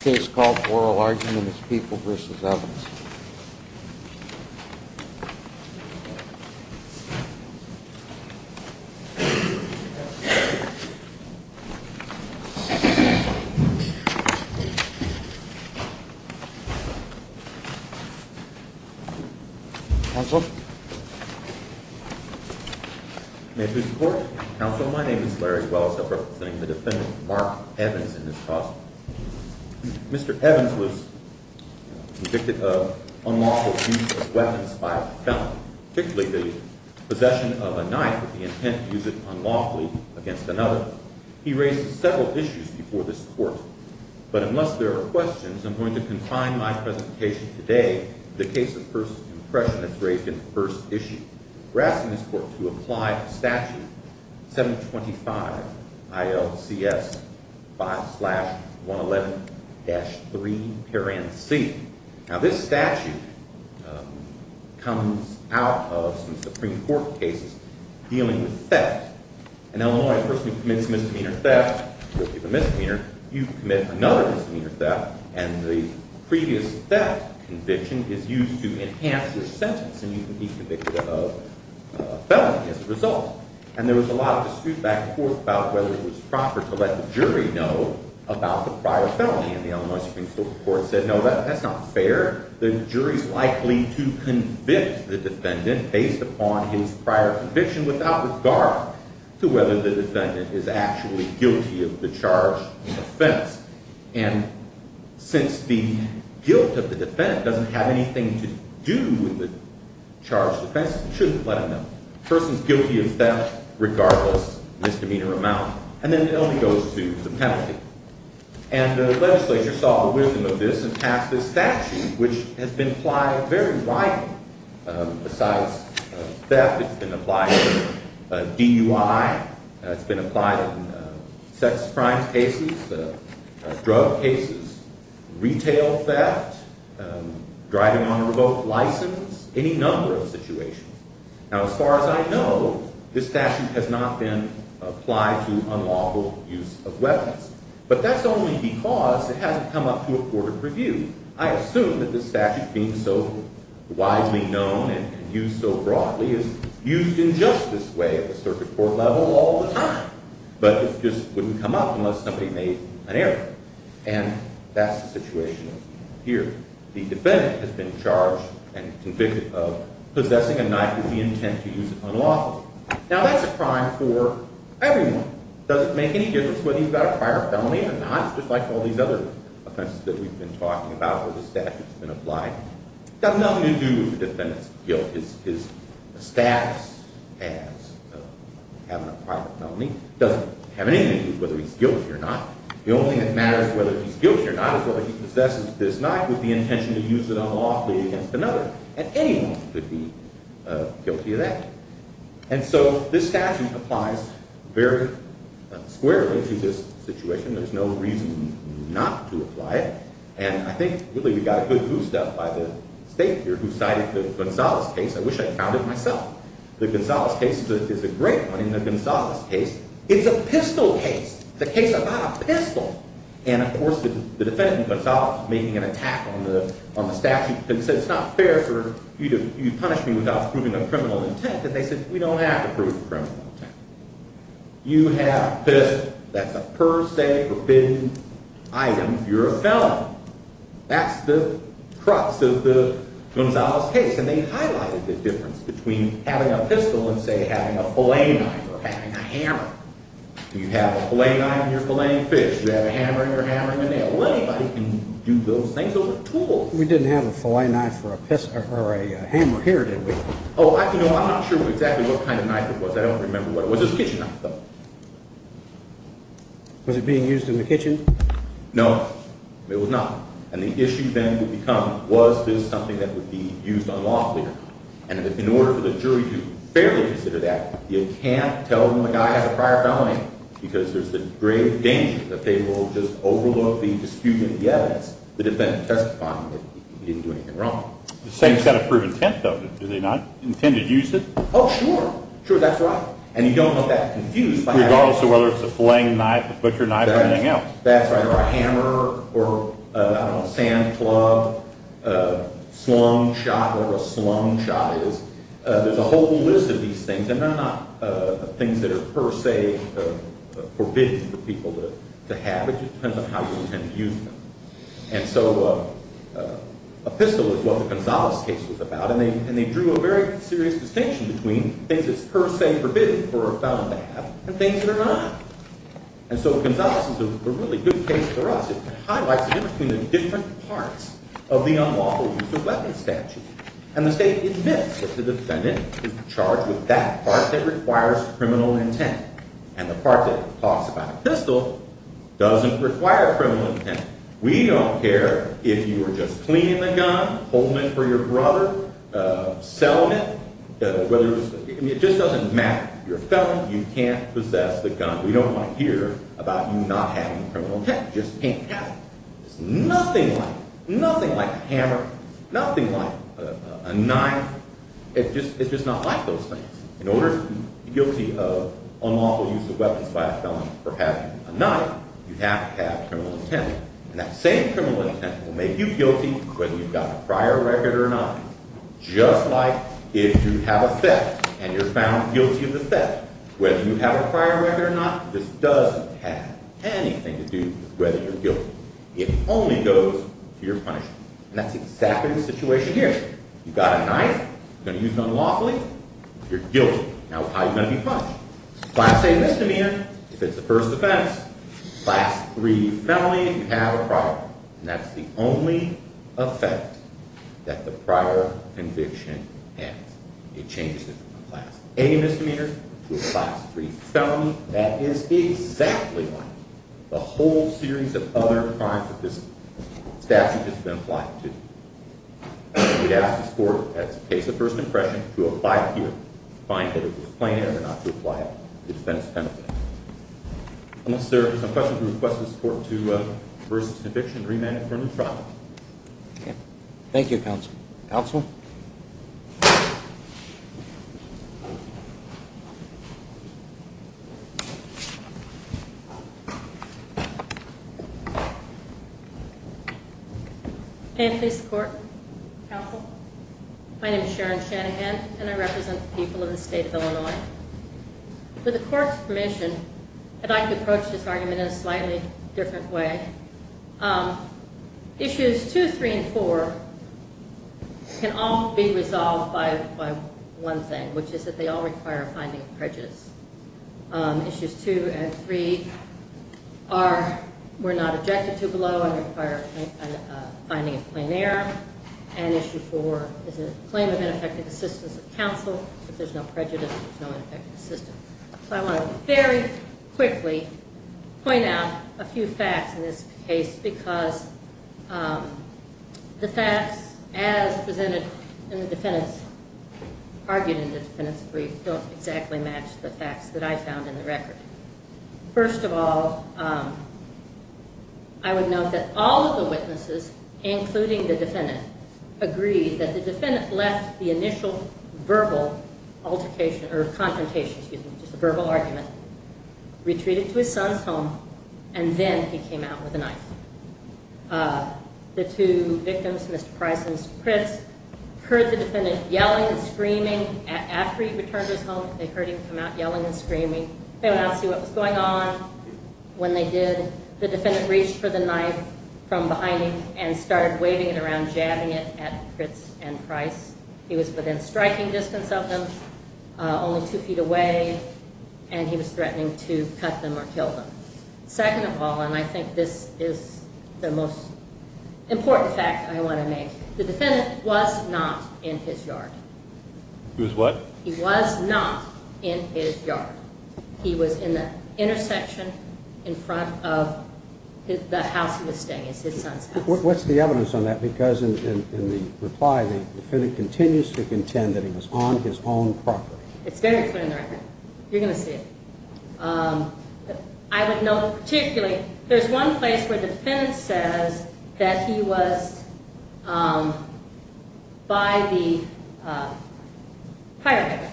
This case is called Oral Argument. It's People v. Evans. Counsel? May it please the Court? Counsel, my name is Larry Welles. I represent the defendant, Mark Evans, in this case. Mr. Evans was convicted of unlawful use of weapons by a felon, particularly the possession of a knife with the intent to use it unlawfully against another. He raises several issues before this Court, but unless there are questions, I'm going to confine my presentation today to the case of First Impression that's raised in the first issue. We're asking this Court to apply Statute 725 ILCS 5-111-3-C. Now, this statute comes out of some Supreme Court cases dealing with theft. In Illinois, a person who commits misdemeanor theft will be the misdemeanor. You commit another misdemeanor theft, and the previous theft conviction is used to enhance your sentence, and you can be convicted of a felony as a result. And there was a lot of dispute back and forth about whether it was proper to let the jury know about the prior felony, and the Illinois Supreme Court said, no, that's not fair. The jury's likely to convict the defendant based upon his prior conviction without regard to whether the defendant is actually guilty of the charge of offense. And since the guilt of the defendant doesn't have anything to do with the charge of offense, you shouldn't let them know. The person's guilty of theft regardless of misdemeanor amount, and then the felony goes to the penalty. And the legislature saw the wisdom of this and passed this statute, which has been applied very widely besides theft. It's been applied to DUI. It's been applied in sex crimes cases, drug cases, retail theft, driving on a remote license, any number of situations. Now, as far as I know, this statute has not been applied to unlawful use of weapons, but that's only because it hasn't come up to a court of review. I assume that this statute, being so widely known and used so broadly, is used in just this way at the circuit court level all the time. But it just wouldn't come up unless somebody made an error, and that's the situation here. The defendant has been charged and convicted of possessing a knife with the intent to use it unlawfully. Now, that's a crime for everyone. It doesn't make any difference whether you've got a prior felony or not. It's just like all these other offenses that we've been talking about where the statute's been applied. It's got nothing to do with the defendant's guilt. His status as having a prior felony doesn't have anything to do with whether he's guilty or not. The only thing that matters whether he's guilty or not is whether he possesses this knife with the intention to use it unlawfully against another. And anyone could be guilty of that. And so this statute applies very squarely to this situation. There's no reason not to apply it. And I think really we got a good boost out by the state here who cited the Gonzales case. I wish I'd found it myself. The Gonzales case is a great one. In the Gonzales case, it's a pistol case. It's a case about a pistol. And, of course, the defendant, Gonzales, was making an attack on the statute. He said, it's not fair for you to punish me without proving a criminal intent. And they said, we don't have to prove a criminal intent. You have a pistol. That's a per se forbidden item if you're a felon. That's the crux of the Gonzales case. And they highlighted the difference between having a pistol and, say, having a fillet knife or having a hammer. You have a fillet knife and you're filleting fish. You have a hammer and you're hammering a nail. Well, anybody can do those things with a tool. We didn't have a fillet knife or a hammer here, did we? Oh, I'm not sure exactly what kind of knife it was. I don't remember what it was. It was a kitchen knife, though. Was it being used in the kitchen? No, it was not. And the issue then would become, was this something that would be used unlawfully? And in order for the jury to fairly consider that, you can't tell them the guy has a prior felony, because there's the grave danger that they will just overlook the dispute in the evidence, the defendant testifying that he didn't do anything wrong. The same set of proven intent, though. Do they not intend to use it? Oh, sure. Sure, that's right. And you don't want that confused by that. Regardless of whether it's a fillet knife, a butcher knife, or anything else. That's right, or a hammer, or a sand club, a slung shot, whatever a slung shot is. There's a whole list of these things. And they're not things that are per se forbidden for people to have. It just depends on how you intend to use them. And so a pistol is what the Gonzales case was about, and they drew a very serious distinction between things that's per se forbidden for a felon to have and things that are not. And so Gonzales is a really good case for us. It highlights the difference between the different parts of the unlawful use of weapons statute. And the state admits that the defendant is charged with that part that requires criminal intent, and the part that talks about a pistol doesn't require criminal intent. We don't care if you were just cleaning the gun, holding it for your brother, selling it. It just doesn't matter. You're a felon. You can't possess the gun. We don't want to hear about you not having criminal intent. You just can't have it. It's nothing like a hammer, nothing like a knife. It's just not like those things. In order to be guilty of unlawful use of weapons by a felon for having a knife, you have to have criminal intent. And that same criminal intent will make you guilty whether you've got a prior record or not, just like if you have a theft and you're found guilty of the theft. Whether you have a prior record or not, this doesn't have anything to do with whether you're guilty. It only goes to your punishment. And that's exactly the situation here. You've got a knife, you're going to use it unlawfully, you're guilty. Now, how are you going to be punished? Class A misdemeanor, if it's the first offense. Class III felony, if you have a prior record. And that's the only effect that the prior conviction has. It changes it from a Class A misdemeanor to a Class III felony. That is exactly the whole series of other crimes that this statute has been applied to. We'd ask this Court, as a case of first impression, to apply it here, to find that it was plaintiff and not to apply it to defense benefit. Unless there are some questions, we request this Court to reverse its conviction and remand it for a new trial. Thank you, Counsel. Counsel? May I please support, Counsel? My name is Sharon Shanahan, and I represent the people of the state of Illinois. With the Court's permission, I'd like to approach this argument in a slightly different way. Issues 2, 3, and 4 can all be resolved by one thing, which is that they all require a finding of prejudice. Issues 2 and 3 were not objected to below and require a finding of plain error. And Issue 4 is a claim of ineffective assistance of counsel. If there's no prejudice, there's no ineffective assistance. So I want to very quickly point out a few facts in this case, because the facts as presented in the defendant's, argued in the defendant's brief, don't exactly match the facts that I found in the record. First of all, I would note that all of the witnesses, including the defendant, agreed that the defendant left the initial verbal altercation, or confrontation, excuse me, just a verbal argument, retreated to his son's home, and then he came out with a knife. The two victims, Mr. Price and Mr. Pritz, heard the defendant yelling and screaming after he returned to his home. They heard him come out yelling and screaming. They did not see what was going on. When they did, the defendant reached for the knife from behind him and started waving it around, jabbing it at Pritz and Price. He was within striking distance of them, only two feet away, and he was threatening to cut them or kill them. Second of all, and I think this is the most important fact I want to make, the defendant was not in his yard. He was what? He was in the intersection in front of the house he was staying at, his son's house. What's the evidence on that? Because in the reply, the defendant continues to contend that he was on his own property. It's very clear in the record. You're going to see it. I would note particularly there's one place where the defendant says that he was by the fireplace.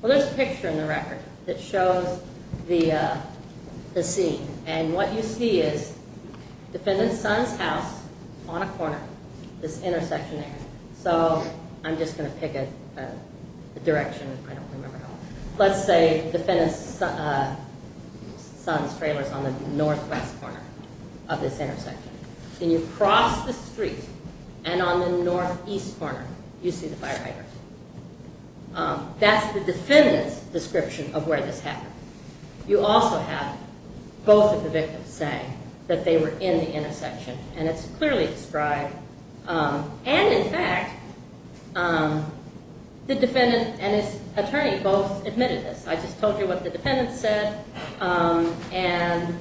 Well, there's a picture in the record that shows the scene, and what you see is the defendant's son's house on a corner, this intersection there. So I'm just going to pick a direction. I don't remember how. Let's say the defendant's son's trailer is on the northwest corner of this intersection, and you cross the street, and on the northeast corner, you see the fireplace. That's the defendant's description of where this happened. You also have both of the victims saying that they were in the intersection, and it's clearly described. And, in fact, the defendant and his attorney both admitted this. I just told you what the defendant said, and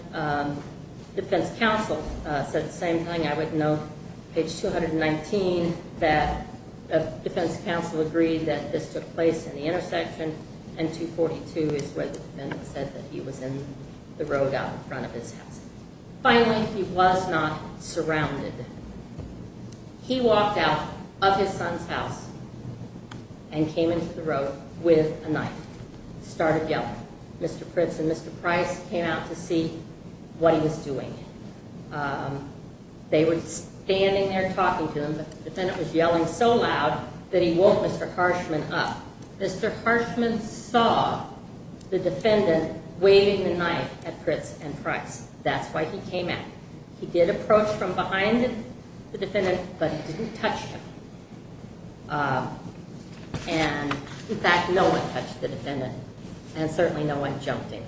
defense counsel said the same thing. I would note page 219 that defense counsel agreed that this took place in the intersection, and 242 is where the defendant said that he was in the road out in front of his house. Finally, he was not surrounded. He walked out of his son's house and came into the road with a knife. He started yelling. Mr. Pritz and Mr. Price came out to see what he was doing. They were standing there talking to him, but the defendant was yelling so loud that he woke Mr. Harshman up. Mr. Harshman saw the defendant waving the knife at Pritz and Price. That's why he came out. He did approach from behind the defendant, but he didn't touch him. And, in fact, no one touched the defendant, and certainly no one jumped him.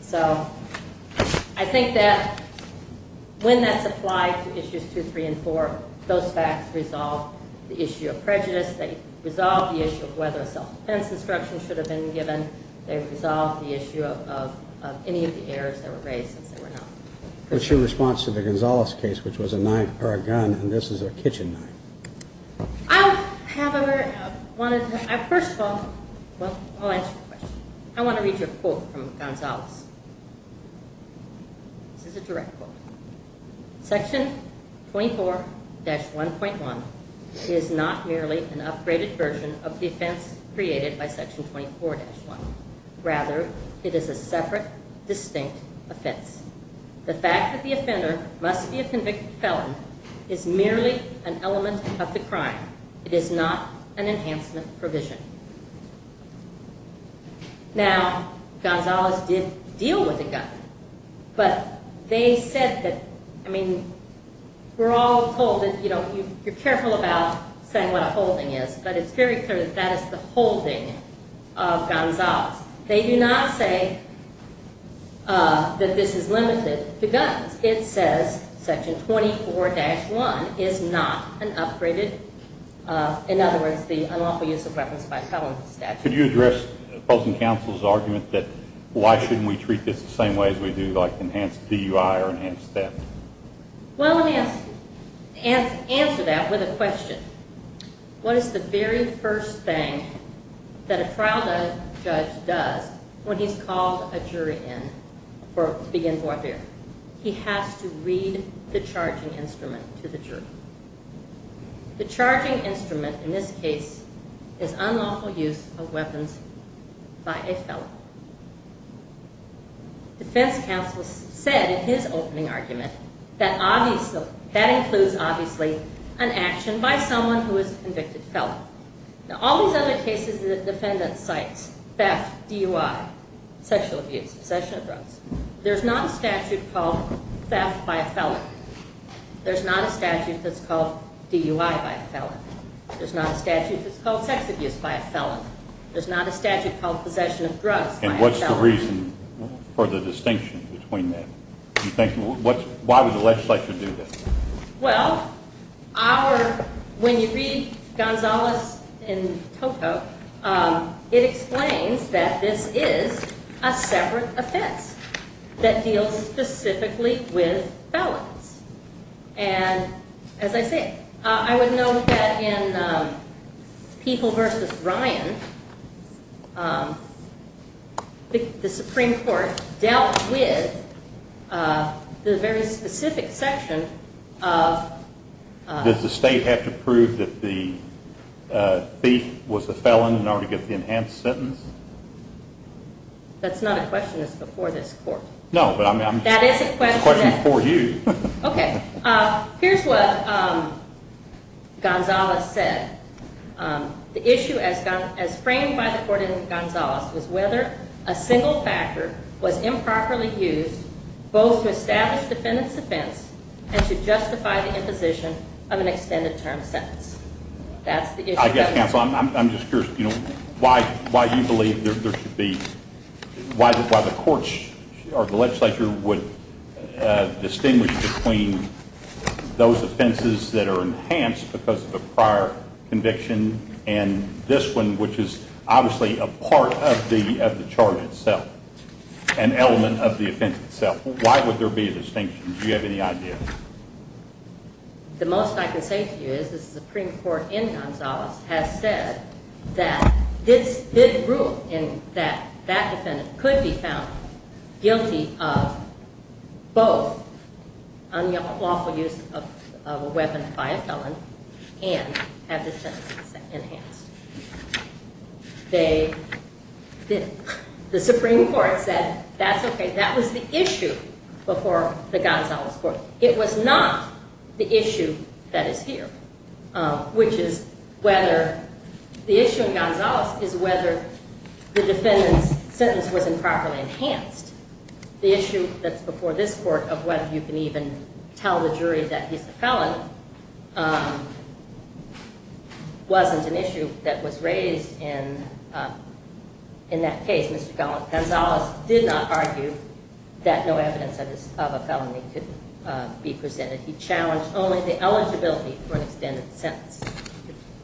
So I think that when that's applied to Issues 2, 3, and 4, those facts resolve the issue of prejudice. They resolve the issue of whether a self-defense instruction should have been given. They resolve the issue of any of the errors that were raised since they were not. What's your response to the Gonzales case, which was a knife or a gun, and this is a kitchen knife? I'll have a very – first of all, I'll answer your question. I want to read you a quote from Gonzales. This is a direct quote. Section 24-1.1 is not merely an upgraded version of the offense created by Section 24-1. Rather, it is a separate, distinct offense. The fact that the offender must be a convicted felon is merely an element of the crime. It is not an enhancement provision. Now, Gonzales did deal with a gun. But they said that – I mean, we're all told that, you know, you're careful about saying what a holding is. But it's very clear that that is the holding of Gonzales. They do not say that this is limited to guns. It says Section 24-1 is not an upgraded – in other words, the unlawful use of weapons by a felon statute. Could you address opposing counsel's argument that why shouldn't we treat this the same way as we do, like enhance DUI or enhance theft? Well, let me answer that with a question. What is the very first thing that a trial judge does when he's called a jury in to begin court hearing? He has to read the charging instrument to the jury. The charging instrument in this case is unlawful use of weapons by a felon. Defense counsel said in his opening argument that includes, obviously, an action by someone who is a convicted felon. Now, all these other cases that a defendant cites – theft, DUI, sexual abuse, possession of drugs – there's not a statute called theft by a felon. There's not a statute that's called DUI by a felon. There's not a statute that's called sex abuse by a felon. There's not a statute called possession of drugs by a felon. And what's the reason for the distinction between them? Why would the legislature do this? Well, our – when you read Gonzales and Tocco, it explains that this is a separate offense that deals specifically with felons. And as I say, I would note that in People v. Ryan, the Supreme Court dealt with the very specific section of – Does the state have to prove that the thief was a felon in order to get the enhanced sentence? That's not a question that's before this court. No, but I'm – That is a question that – It's a question for you. Okay. Here's what Gonzales said. The issue as framed by the court in Gonzales was whether a single factor was improperly used both to establish defendant's offense and to justify the imposition of an extended term sentence. That's the issue. I guess, counsel, I'm just curious, you know, why you believe there should be – why the courts or the legislature would distinguish between those offenses that are enhanced because of a prior conviction and this one, which is obviously a part of the charge itself, an element of the offense itself. Why would there be a distinction? Do you have any idea? The most I can say to you is the Supreme Court in Gonzales has said that this didn't rule in that that defendant could be found guilty of both unlawful use of a weapon by a felon and have the sentence enhanced. They didn't. The Supreme Court said that's okay. That was the issue before the Gonzales court. It was not the issue that is here, which is whether – the issue in Gonzales is whether the defendant's sentence was improperly enhanced. The issue that's before this court of whether you can even tell the jury that he's a felon wasn't an issue that was raised in that case. Mr. Gallant, Gonzales did not argue that no evidence of a felony could be presented. He challenged only the eligibility for an extended sentence.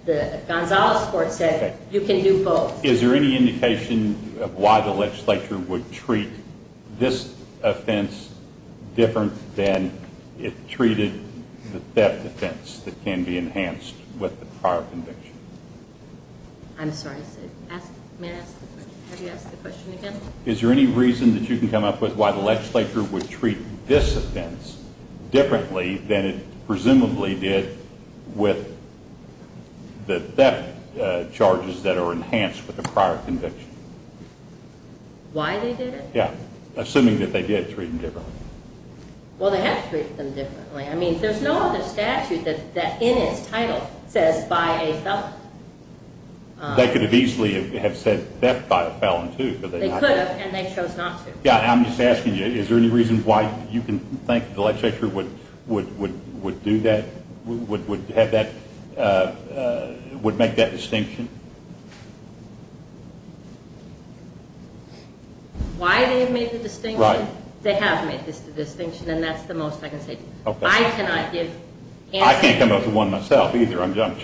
The Gonzales court said you can do both. Is there any indication of why the legislature would treat this offense different than it treated the theft offense that can be enhanced with the prior conviction? I'm sorry. May I ask the question? Have you asked the question again? Is there any reason that you can come up with why the legislature would treat this offense differently than it presumably did with the theft charges that are enhanced with the prior conviction? Why they did it? Yeah. Assuming that they did treat them differently. Well, they have to treat them differently. I mean, there's no other statute that in its title says by a felon. They could have easily have said theft by a felon, too. They could have, and they chose not to. I'm just asking you, is there any reason why you can think the legislature would do that, would make that distinction? Why they made the distinction? Right. They have made the distinction, and that's the most I can say. Okay. I cannot give answers. I can't come up with one myself, either. I'm just,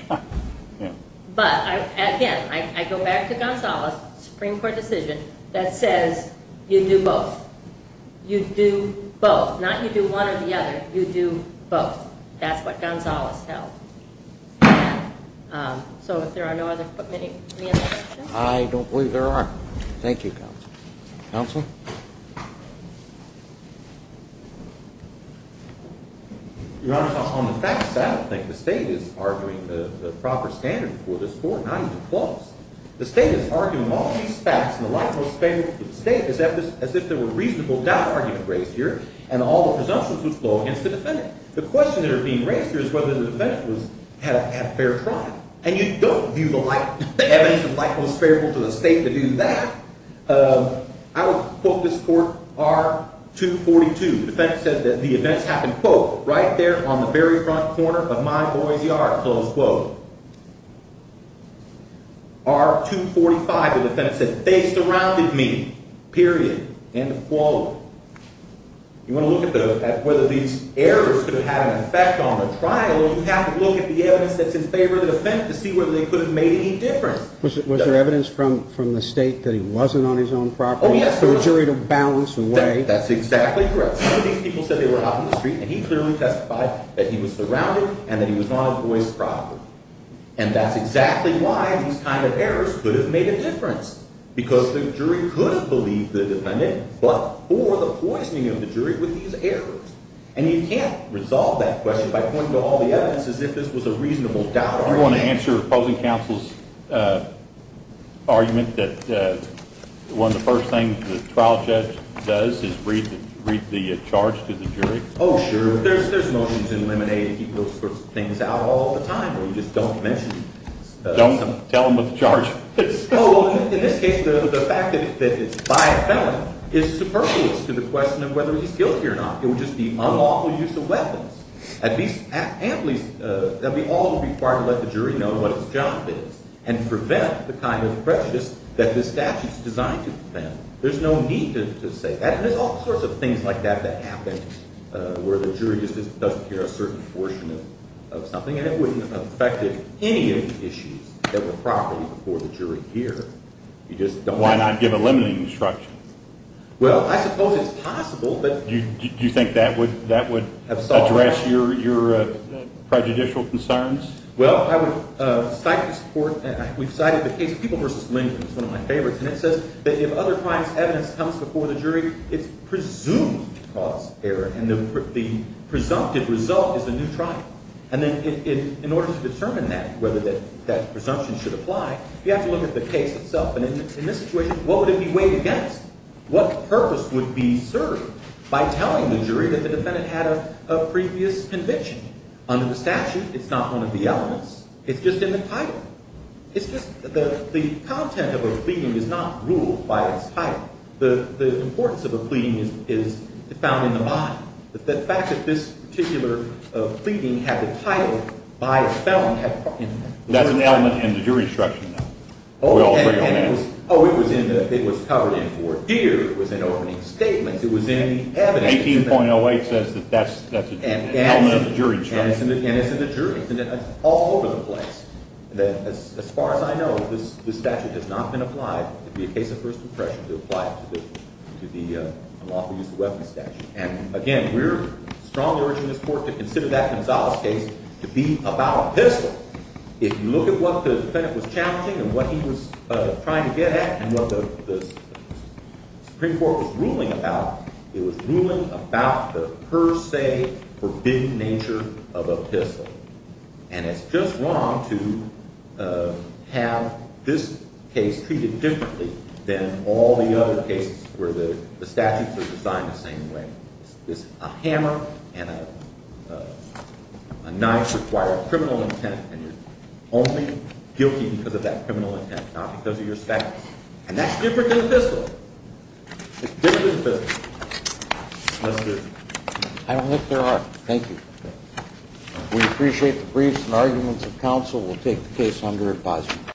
you know. But, again, I go back to Gonzales' Supreme Court decision that says you do both. You do both. Not you do one or the other. You do both. That's what Gonzales held. So, if there are no other questions. I don't believe there are. Thank you, Counsel. Counsel? Your Honor, on the facts, I don't think the state is arguing the proper standard for this court, not even close. The state is arguing all these facts in the light most favorable to the state as if there were reasonable doubt arguments raised here, and all the presumptions would flow against the defendant. The question that are being raised here is whether the defendant had a fair trial. And you don't view the evidence in light most favorable to the state to do that. I would quote this court, R-242. The defense said that the events happened, quote, right there on the very front corner of my boy's yard, close quote. R-245, the defense said, they surrounded me, period, end of quote. You want to look at whether these errors could have had an effect on the trial, you have to look at the evidence that's in favor of the defendant to see whether they could have made any difference. Was there evidence from the state that he wasn't on his own property? Oh, yes. For the jury to balance and weigh? That's exactly correct. Some of these people said they were out in the street, and he clearly testified that he was surrounded and that he was on his boy's property. And that's exactly why these kind of errors could have made a difference. Because the jury could have believed the defendant, but for the poisoning of the jury with these errors. And you can't resolve that question by pointing to all the evidence as if this was a reasonable doubt. Do you want to answer opposing counsel's argument that one of the first things the trial judge does is read the charge to the jury? Oh, sure. There's motions in Lemonade that keep those sorts of things out all the time where you just don't mention them. Don't tell them what the charge is. Oh, in this case, the fact that it's by a felon is superfluous to the question of whether he's guilty or not. It would just be unlawful use of weapons. At least, that would be all required to let the jury know what his job is and prevent the kind of prejudice that this statute is designed to prevent. There's no need to say that. And there's all sorts of things like that that happen where the jury just doesn't care a certain portion of something, and it wouldn't have affected any of the issues that were properly before the jury here. Why not give a limiting instruction? Well, I suppose it's possible. Do you think that would address your prejudicial concerns? Well, I would cite this court. We've cited the case of People v. Lindgren. It's one of my favorites. And it says that if other crimes' evidence comes before the jury, it's presumed cause error, and the presumptive result is a new trial. And then in order to determine that, whether that presumption should apply, you have to look at the case itself. And in this situation, what would it be weighed against? What purpose would be served by telling the jury that the defendant had a previous conviction? Under the statute, it's not one of the elements. It's just in the title. It's just the content of a pleading is not ruled by its title. The importance of a pleading is found in the body. The fact that this particular pleading had the title by a felon. That's an element in the jury instruction, though. Oh, it was covered in court. Here was an opening statement. It was in the evidence. 18.08 says that that's an element of the jury instruction. And it's in the jury. And it's all over the place. As far as I know, this statute has not been applied. It would be a case of first impression to apply it to the lawful use of weapons statute. And, again, we're strongly urging this court to consider that Gonzales case to be about a pistol. If you look at what the defendant was challenging and what he was trying to get at and what the Supreme Court was ruling about, it was ruling about the per se forbidden nature of a pistol. And it's just wrong to have this case treated differently than all the other cases where the statutes are designed the same way. A hammer and a knife require a criminal intent, and you're only guilty because of that criminal intent, not because of your statute. And that's different than a pistol. It's different than a pistol. I don't think there are. Thank you. We appreciate the briefs and arguments of counsel. We'll take the case under advisement.